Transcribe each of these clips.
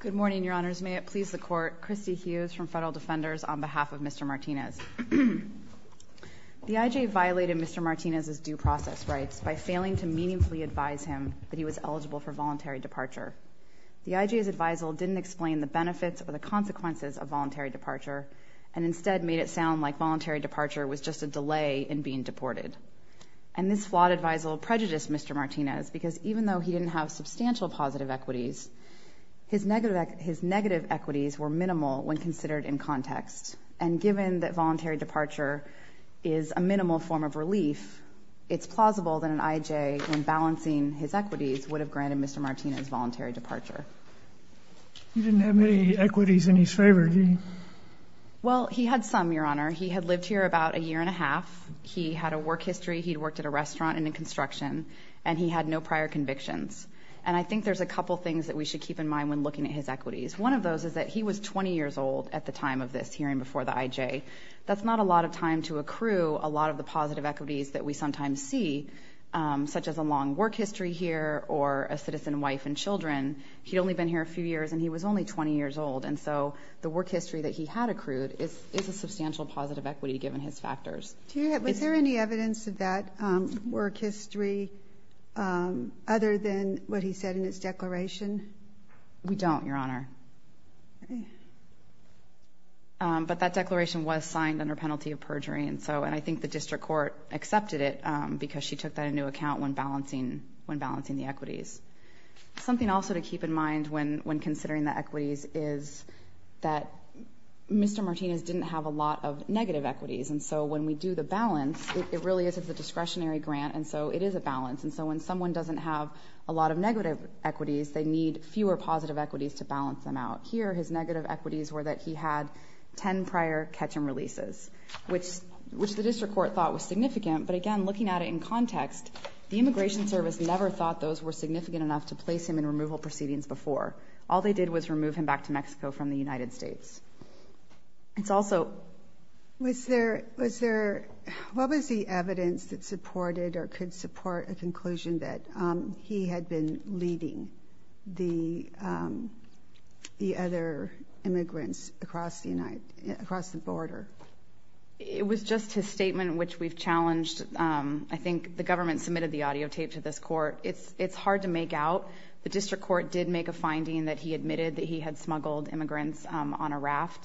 Good morning, Your Honors. May it please the Court, Christy Hughes from Federal Defenders on behalf of Mr. Martinez. The I.J. violated Mr. Martinez's due process rights by failing to meaningfully advise him that he was eligible for voluntary departure. The I.J.'s advisal didn't explain the benefits or the consequences of voluntary departure, and instead made it sound like voluntary departure was just a delay in being deported. And this flawed advisal prejudiced Mr. Martinez because even though he didn't have substantial positive equities, his negative equities were minimal when considered in context. And given that voluntary departure is a minimal form of relief, it's plausible that an I.J. in balancing his equities would have granted Mr. Martinez voluntary departure. You didn't have any equities in his favor, did you? Well, he had some, Your Honor. He had lived here about a year and a half. He had a work history. He had worked at a restaurant and in construction, and he had no prior convictions. And I think there's a couple things that we should keep in mind when looking at his equities. One of those is that he was 20 years old at the time of this hearing before the I.J. That's not a lot of time to accrue a lot of the positive equities that we sometimes see, such as a long work history here or a citizen wife and children. He'd only been here a few years, and he was only 20 years old. And so the work history that he had accrued is a substantial positive equity given his factors. Was there any evidence of that work history other than what he said in his declaration? We don't, Your Honor. But that declaration was signed under penalty of perjury, and I think the district court accepted it because she took that into account when balancing the equities. Something also to keep in mind when considering the equities is that Mr. Martinez didn't have a lot of negative equities. And so when we do the balance, it really is a discretionary grant, and so it is a balance. And so when someone doesn't have a lot of negative equities, they need fewer positive equities to balance them out. Here, his negative equities were that he had 10 prior catch-and-releases, which the district court thought was significant. But again, looking at it in context, the Immigration Service never thought those were significant enough to place him in removal proceedings before. All they did was remove him back to Mexico from the United States. It's also – Was there – what was the evidence that supported or could support a conclusion that he had been leading the other immigrants across the border? It was just his statement, which we've challenged. I think the government submitted the audio tape to this court. It's hard to make out. The district court did make a finding that he admitted that he had smuggled immigrants on a raft.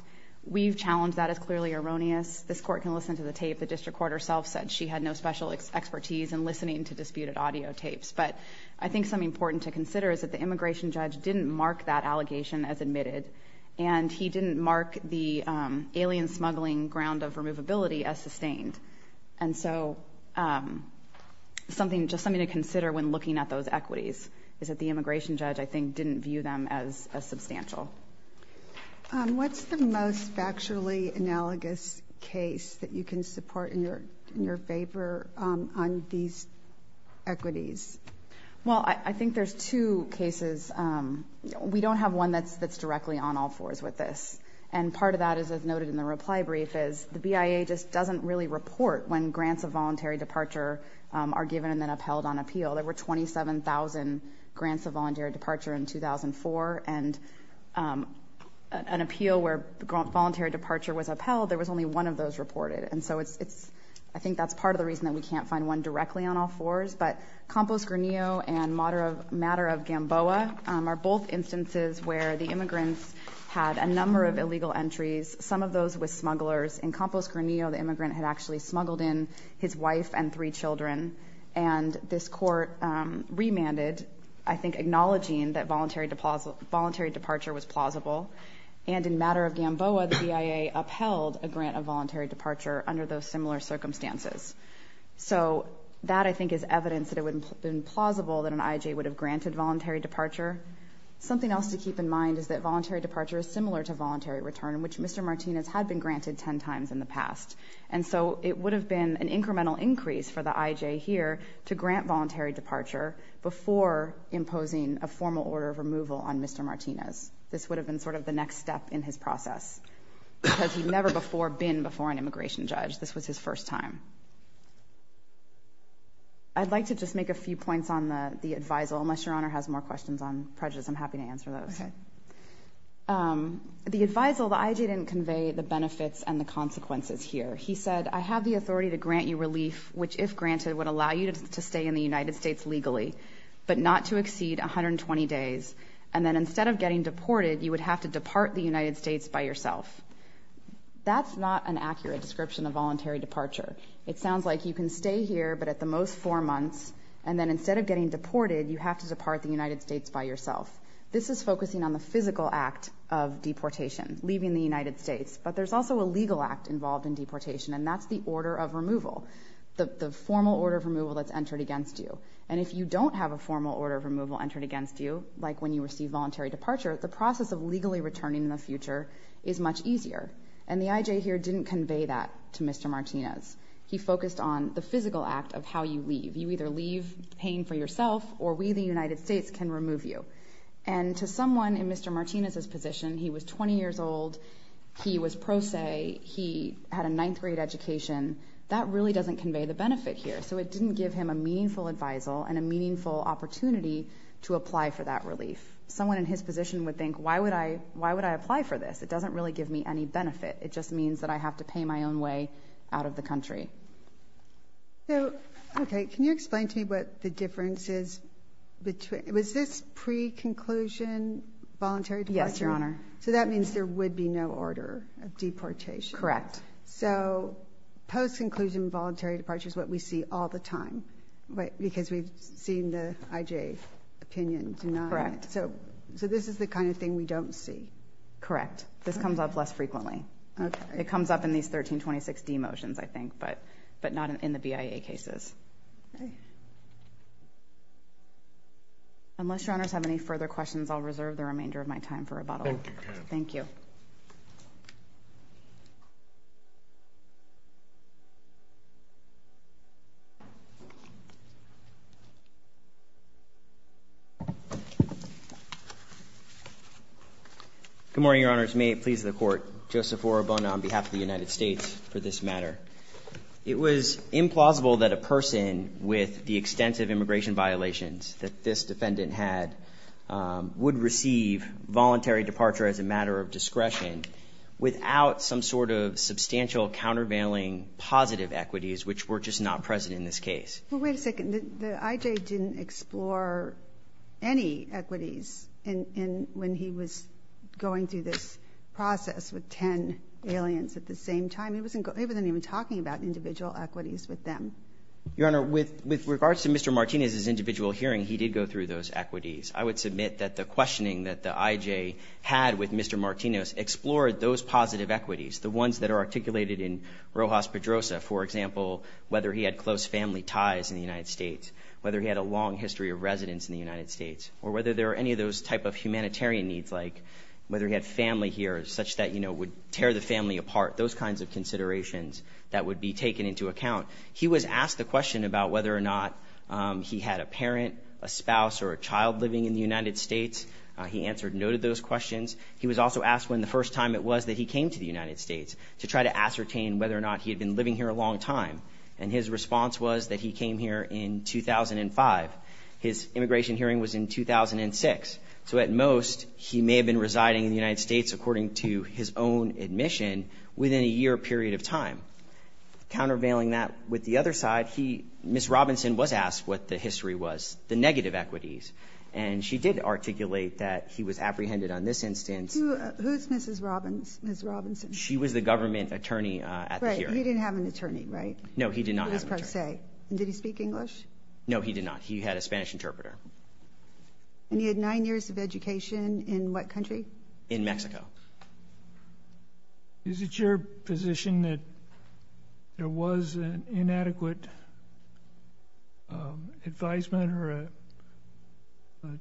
We've challenged that as clearly erroneous. This court can listen to the tape. The district court herself said she had no special expertise in listening to disputed audio tapes. But I think something important to consider is that the immigration judge didn't mark that allegation as admitted, and he didn't mark the alien smuggling ground of removability as sustained. And so something – just something to consider when looking at those equities is that the immigration judge, I think, didn't view them as substantial. What's the most factually analogous case that you can support in your favor on these equities? Well, I think there's two cases. We don't have one that's directly on all fours with this. And part of that, as noted in the reply brief, is the BIA just doesn't really report when grants of voluntary departure are given and then upheld on appeal. There were 27,000 grants of voluntary departure in 2004, and an appeal where voluntary departure was upheld, there was only one of those reported. And so it's – I think that's part of the reason that we can't find one directly on all fours. But Campos Granillo and Matter of Gamboa are both instances where the immigrants had a number of illegal entries, some of those with smugglers. In Campos Granillo, the immigrant had actually smuggled in his wife and three children. And this court remanded, I think, acknowledging that voluntary departure was plausible. And in Matter of Gamboa, the BIA upheld a grant of voluntary departure under those similar circumstances. So that, I think, is evidence that it would have been plausible that an I.J. would have granted voluntary departure. Something else to keep in mind is that voluntary departure is similar to voluntary return, which Mr. Martinez had been granted ten times in the past. And so it would have been an incremental increase for the I.J. here to grant voluntary departure before imposing a formal order of removal on Mr. Martinez. This would have been sort of the next step in his process, because he'd never before been before an immigration judge. This was his first time. I'd like to just make a few points on the advisal, unless Your Honor has more questions on prejudice. I'm happy to answer those. The advisal, the I.J. didn't convey the benefits and the consequences here. He said, I have the authority to grant you relief, which, if granted, would allow you to stay in the United States legally, but not to exceed 120 days. And then instead of getting deported, you would have to depart the United States by yourself. That's not an accurate description of voluntary departure. It sounds like you can stay here, but at the most four months, and then instead of getting deported, you have to depart the United States by yourself. This is focusing on the physical act of deportation, leaving the United States. But there's also a legal act involved in deportation, and that's the order of removal, the formal order of removal that's entered against you. And if you don't have a formal order of removal entered against you, like when you receive voluntary departure, the process of legally returning in the future is much easier. And the I.J. here didn't convey that to Mr. Martinez. He focused on the physical act of how you leave. You either leave paying for yourself, or we, the United States, can remove you. And to someone in Mr. Martinez's position, he was 20 years old, he was pro se, he had a ninth-grade education. That really doesn't convey the benefit here. So it didn't give him a meaningful advisal and a meaningful opportunity to apply for that relief. Someone in his position would think, why would I apply for this? It doesn't really give me any benefit. It just means that I have to pay my own way out of the country. Okay. Can you explain to me what the difference is? Was this pre-conclusion voluntary departure? Yes, Your Honor. So that means there would be no order of deportation. Correct. So post-conclusion voluntary departure is what we see all the time because we've seen the I.J. opinion deny it. Correct. So this is the kind of thing we don't see. Correct. This comes up less frequently. Okay. It comes up in these 1326d motions, I think, but not in the BIA cases. Okay. Unless Your Honors have any further questions, I'll reserve the remainder of my time for rebuttal. Thank you. Thank you. Thank you. Good morning, Your Honors. May it please the Court. Joseph Orabona on behalf of the United States for this matter. It was implausible that a person with the extensive immigration violations that this defendant had would receive voluntary departure as a matter of discretion without some sort of substantial countervailing positive equities which were just not present in this case. Well, wait a second. The I.J. didn't explore any equities when he was going through this process with ten aliens at the same time. He wasn't even talking about individual equities with them. Your Honor, with regards to Mr. Martinez's individual hearing, he did go through those equities. I would submit that the questioning that the I.J. had with Mr. Martinez explored those positive equities, the ones that are articulated in Rojas-Pedrosa, for example, whether he had close family ties in the United States, whether he had a long history of residence in the United States, or whether there were any of those type of humanitarian needs like whether he had family here such that, you know, would tear the family apart, those kinds of considerations that would be taken into account. He was asked the question about whether or not he had a parent, a spouse, or a child living in the United States. He answered no to those questions. He was also asked when the first time it was that he came to the United States to try to ascertain whether or not he had been living here a long time. And his response was that he came here in 2005. His immigration hearing was in 2006. So at most, he may have been residing in the United States, according to his own admission, within a year period of time. Countervailing that with the other side, he, Ms. Robinson, was asked what the history was, the negative equities. And she did articulate that he was apprehended on this instance. Who is Mrs. Robins, Ms. Robinson? She was the government attorney at the hearing. Right. He didn't have an attorney, right? No, he did not have an attorney. Did he speak English? No, he did not. He had a Spanish interpreter. And he had nine years of education in what country? In Mexico. Is it your position that there was an inadequate advisement or a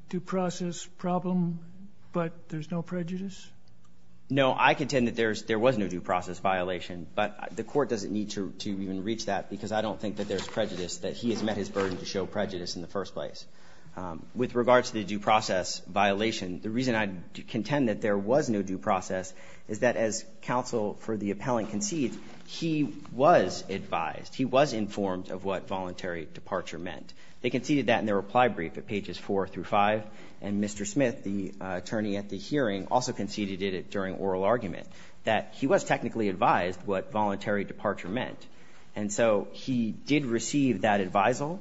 due process problem, but there's no prejudice? No. I contend that there was no due process violation. But the Court doesn't need to even reach that, because I don't think that there's prejudice, that he has met his burden to show prejudice in the first place. With regard to the due process violation, the reason I contend that there was no due process is that as counsel for the appellant conceded, he was advised, he was informed of what voluntary departure meant. They conceded that in their reply brief at pages 4 through 5. And Mr. Smith, the attorney at the hearing, also conceded it during oral argument that he was technically advised what voluntary departure meant. And so he did receive that advisal,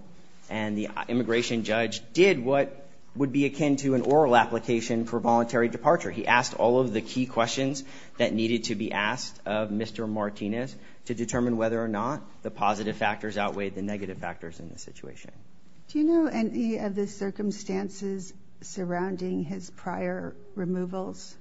and the immigration judge did what would be akin to an oral application for voluntary departure. He asked all of the key questions that needed to be asked of Mr. Martinez to determine whether or not the positive factors outweighed the negative factors in the situation. Do you know any of the circumstances surrounding his prior removals?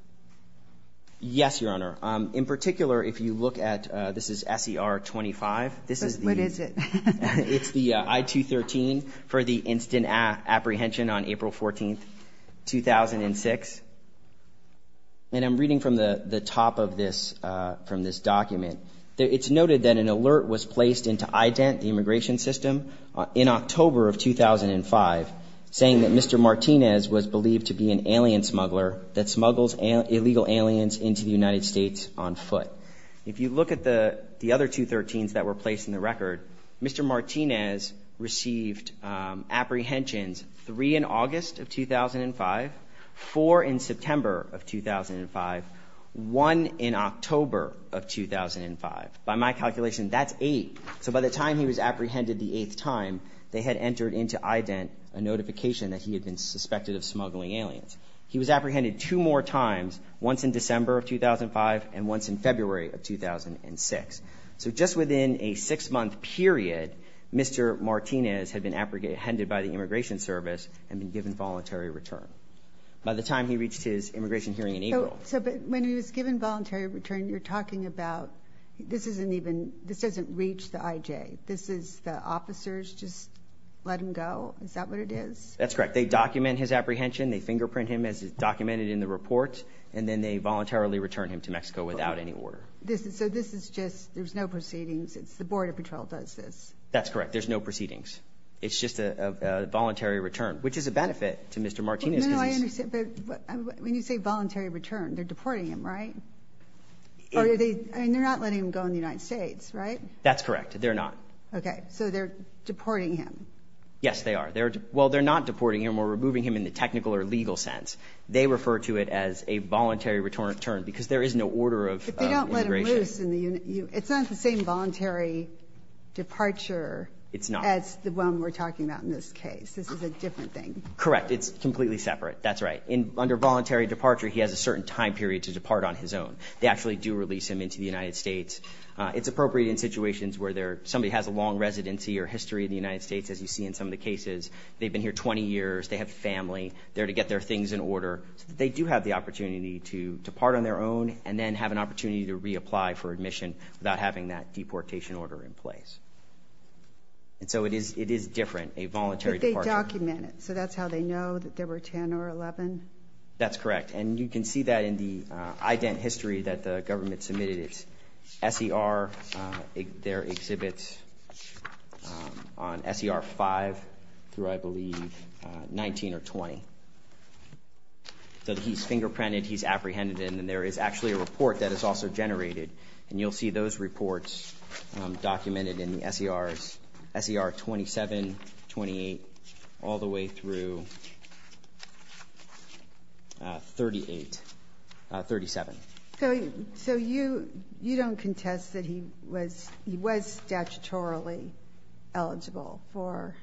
Yes, Your Honor. In particular, if you look at, this is S.E.R. 25. This is the. What is it? It's the I-213 for the instant apprehension on April 14, 2006. And I'm reading from the top of this, from this document. It's noted that an alert was placed into IDENT, the immigration system, in October of 2005, saying that Mr. Martinez was believed to be an alien smuggler that smuggles illegal aliens into the United States on foot. If you look at the other 213s that were placed in the record, Mr. Martinez received apprehensions three in August of 2005, four in September of 2005, one in October of 2005. By my calculation, that's eight. So by the time he was apprehended the eighth time, they had entered into IDENT a notification that he had been suspected of smuggling aliens. He was apprehended two more times, once in December of 2005 and once in February of 2006. So just within a six-month period, Mr. Martinez had been apprehended by the immigration service and been given voluntary return. By the time he reached his immigration hearing in April. So, but when he was given voluntary return, you're talking about this isn't even, this doesn't reach the IJ. This is the officers just let him go? Is that what it is? That's correct. They document his apprehension. They fingerprint him as documented in the report. And then they voluntarily return him to Mexico without any order. So this is just, there's no proceedings. It's the border patrol does this. That's correct. There's no proceedings. It's just a voluntary return, which is a benefit to Mr. Martinez. No, no, I understand. But when you say voluntary return, they're deporting him, right? Or are they, I mean, they're not letting him go in the United States, right? That's correct. They're not. Okay. So they're deporting him. Yes, they are. Well, they're not deporting him or removing him in the technical or legal sense. They refer to it as a voluntary return because there is no order of integration. But they don't let him loose. It's not the same voluntary departure. It's not. As the one we're talking about in this case. This is a different thing. Correct. It's completely separate. That's right. Under voluntary departure, he has a certain time period to depart on his own. They actually do release him into the United States. It's appropriate in situations where somebody has a long residency or history in the United States, as you see in some of the cases. They've been here 20 years. They have family. They're there to get their things in order so that they do have the opportunity to depart on their own and then have an opportunity to reapply for admission without having that deportation order in place. And so it is different, a voluntary departure. But they document it. So that's how they know that there were 10 or 11? That's correct. And you can see that in the ident history that the government submitted. It's S.E.R., their exhibits on S.E.R. 5 through, I believe, 19 or 20. So he's fingerprinted. He's apprehended. And there is actually a report that is also generated. And you'll see those reports documented in the S.E.R.s, S.E.R. 27, 28, all the way through 38, 37. So you don't contest that he was statutorily eligible for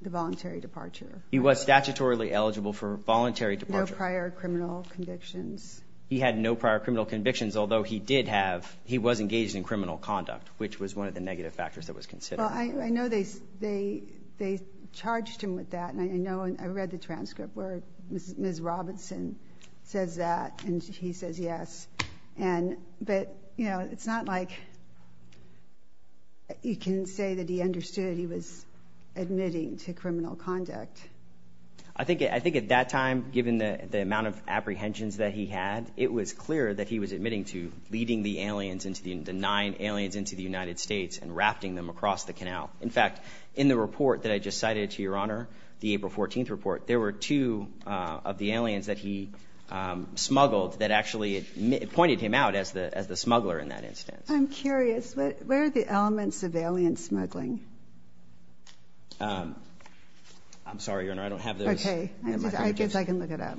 the voluntary departure? He was statutorily eligible for voluntary departure. No prior criminal convictions? He had no prior criminal convictions, although he did have he was engaged in criminal conduct, which was one of the negative factors that was considered. Well, I know they charged him with that. And I know I read the transcript where Ms. Robinson says that, and he says yes. But, you know, it's not like you can say that he understood he was admitting to criminal conduct. I think at that time, given the amount of apprehensions that he had, it was clear that he was admitting to leading the nine aliens into the United States and rafting them across the canal. In fact, in the report that I just cited to Your Honor, the April 14th report, there were two of the aliens that he smuggled that actually pointed him out as the smuggler in that instance. I'm curious. Where are the elements of alien smuggling? I'm sorry, Your Honor, I don't have those. Okay. I guess I can look it up.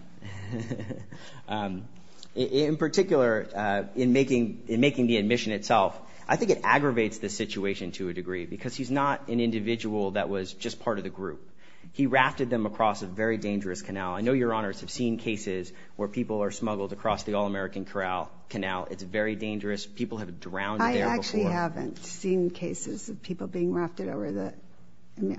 In particular, in making the admission itself, I think it aggravates the situation to a degree, because he's not an individual that was just part of the group. He rafted them across a very dangerous canal. I know Your Honors have seen cases where people are smuggled across the All-American Corral Canal. It's very dangerous. People have drowned there before. I actually haven't seen cases of people being rafted over the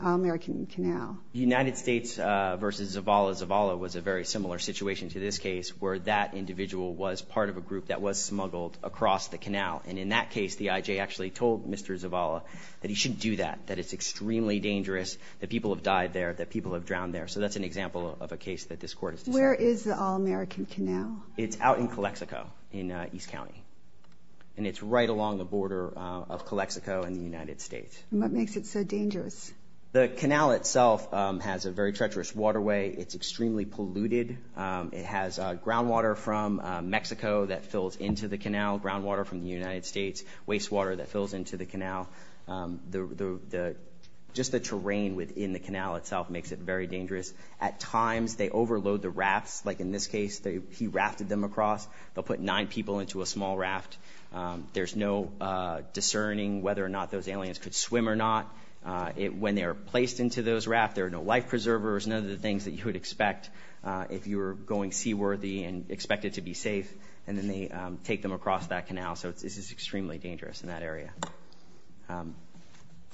All-American Canal. United States v. Zavala. Zavala was a very similar situation to this case, where that individual was part of a group that was smuggled across the canal. And in that case, the IJ actually told Mr. Zavala that he shouldn't do that, that it's extremely dangerous, that people have died there, that people have drowned there. So that's an example of a case that this Court has decided. Where is the All-American Canal? It's out in Calexico in East County. And it's right along the border of Calexico and the United States. And what makes it so dangerous? The canal itself has a very treacherous waterway. It's extremely polluted. It has groundwater from Mexico that fills into the canal, groundwater from the United States, wastewater that fills into the canal. Just the terrain within the canal itself makes it very dangerous. At times, they overload the rafts. Like in this case, he rafted them across. They'll put nine people into a small raft. There's no discerning whether or not those aliens could swim or not. When they are placed into those rafts, there are no life preservers, none of the things that you would expect if you were going seaworthy and expected to be safe. And then they take them across that canal. So this is extremely dangerous in that area.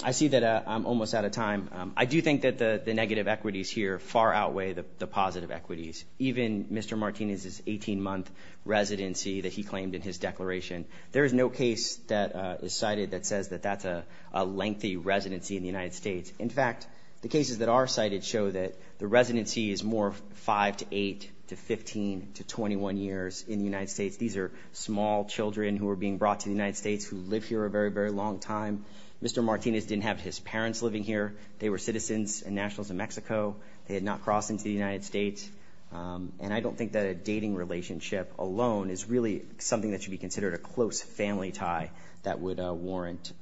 I see that I'm almost out of time. I do think that the negative equities here far outweigh the positive equities. Even Mr. Martinez's 18-month residency that he claimed in his declaration, there is no case that is cited that says that that's a lengthy residency in the United States. In fact, the cases that are cited show that the residency is more 5 to 8 to 15 to 21 years in the United States. These are small children who are being brought to the United States who live here a very, very long time. Mr. Martinez didn't have his parents living here. They were citizens and nationals of Mexico. They had not crossed into the United States. And I don't think that a dating relationship alone is really something that should be considered a close family tie that would warrant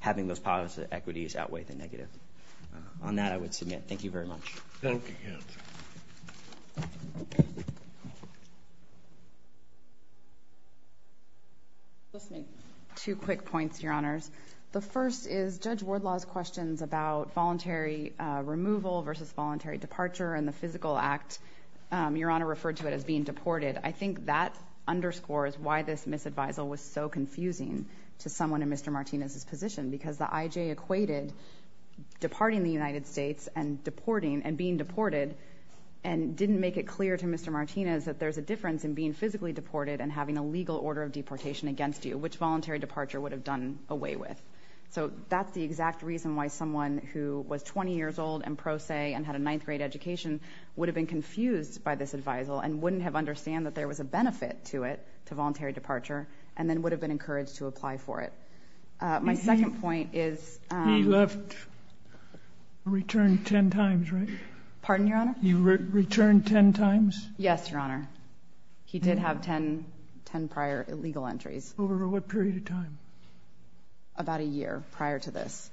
having those positive equities outweigh the negative. On that, I would submit. Thank you very much. Thank you. Let's make two quick points, Your Honors. The first is Judge Wardlaw's questions about voluntary removal versus voluntary departure and the physical act. Your Honor referred to it as being deported. I think that underscores why this misadvisal was so confusing to someone in Mr. Martinez's because the IJ equated departing the United States and being deported and didn't make it clear to Mr. Martinez that there's a difference in being physically deported and having a legal order of deportation against you, which voluntary departure would have done away with. So that's the exact reason why someone who was 20 years old and pro se and had a ninth grade education would have been confused by this advisal and wouldn't have understood that there was a benefit to it, to voluntary departure, and then would have been encouraged to apply for it. My second point is he left or returned ten times, right? Pardon, Your Honor? He returned ten times? Yes, Your Honor. He did have ten prior illegal entries. Over what period of time? About a year prior to this.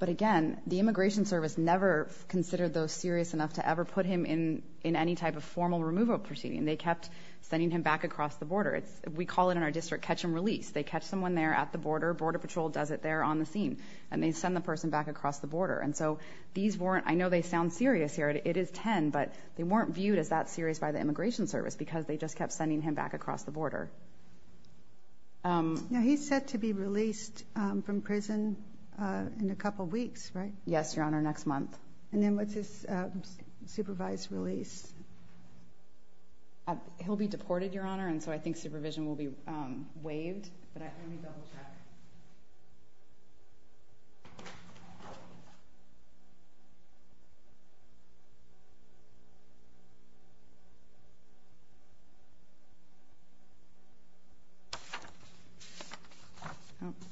But again, the Immigration Service never considered those serious enough to ever put him in any type of formal removal proceeding. They kept sending him back across the border. We call it in our district catch and release. They catch someone there at the border, Border Patrol does it there on the scene, and they send the person back across the border. And so these weren't, I know they sound serious here, it is ten, but they weren't viewed as that serious by the Immigration Service because they just kept sending him back across the border. Now he's set to be released from prison in a couple weeks, right? Yes, Your Honor, next month. And then what's his supervised release? He'll be deported, Your Honor, and so I think supervision will be waived. Let me double check.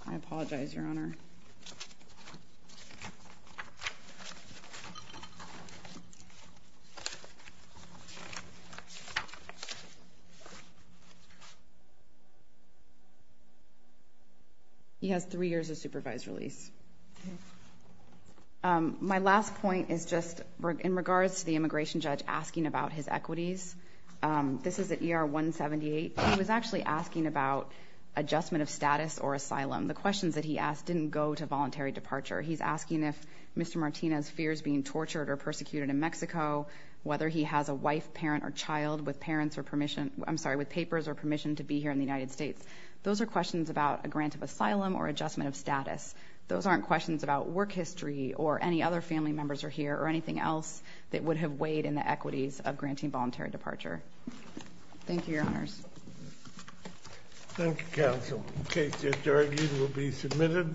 I apologize, Your Honor. He has three years of supervised release. My last point is just in regards to the immigration judge asking about his equities. This is at ER 178. He was actually asking about adjustment of status or asylum. The questions that he asked didn't go to voluntary departure. He's asking if Mr. Martinez's fear is being tortured or persecuted in Mexico, whether he has a wife, parent, or child with parents or permission, I'm sorry, with papers or permission to be here in the United States. Those are questions about a grant of asylum or adjustment of status. Those aren't questions about work history or any other family members are here or anything else that would have weighed in the equities of granting voluntary departure. Thank you, Your Honors. Thank you, Counsel. The case is argued and will be submitted.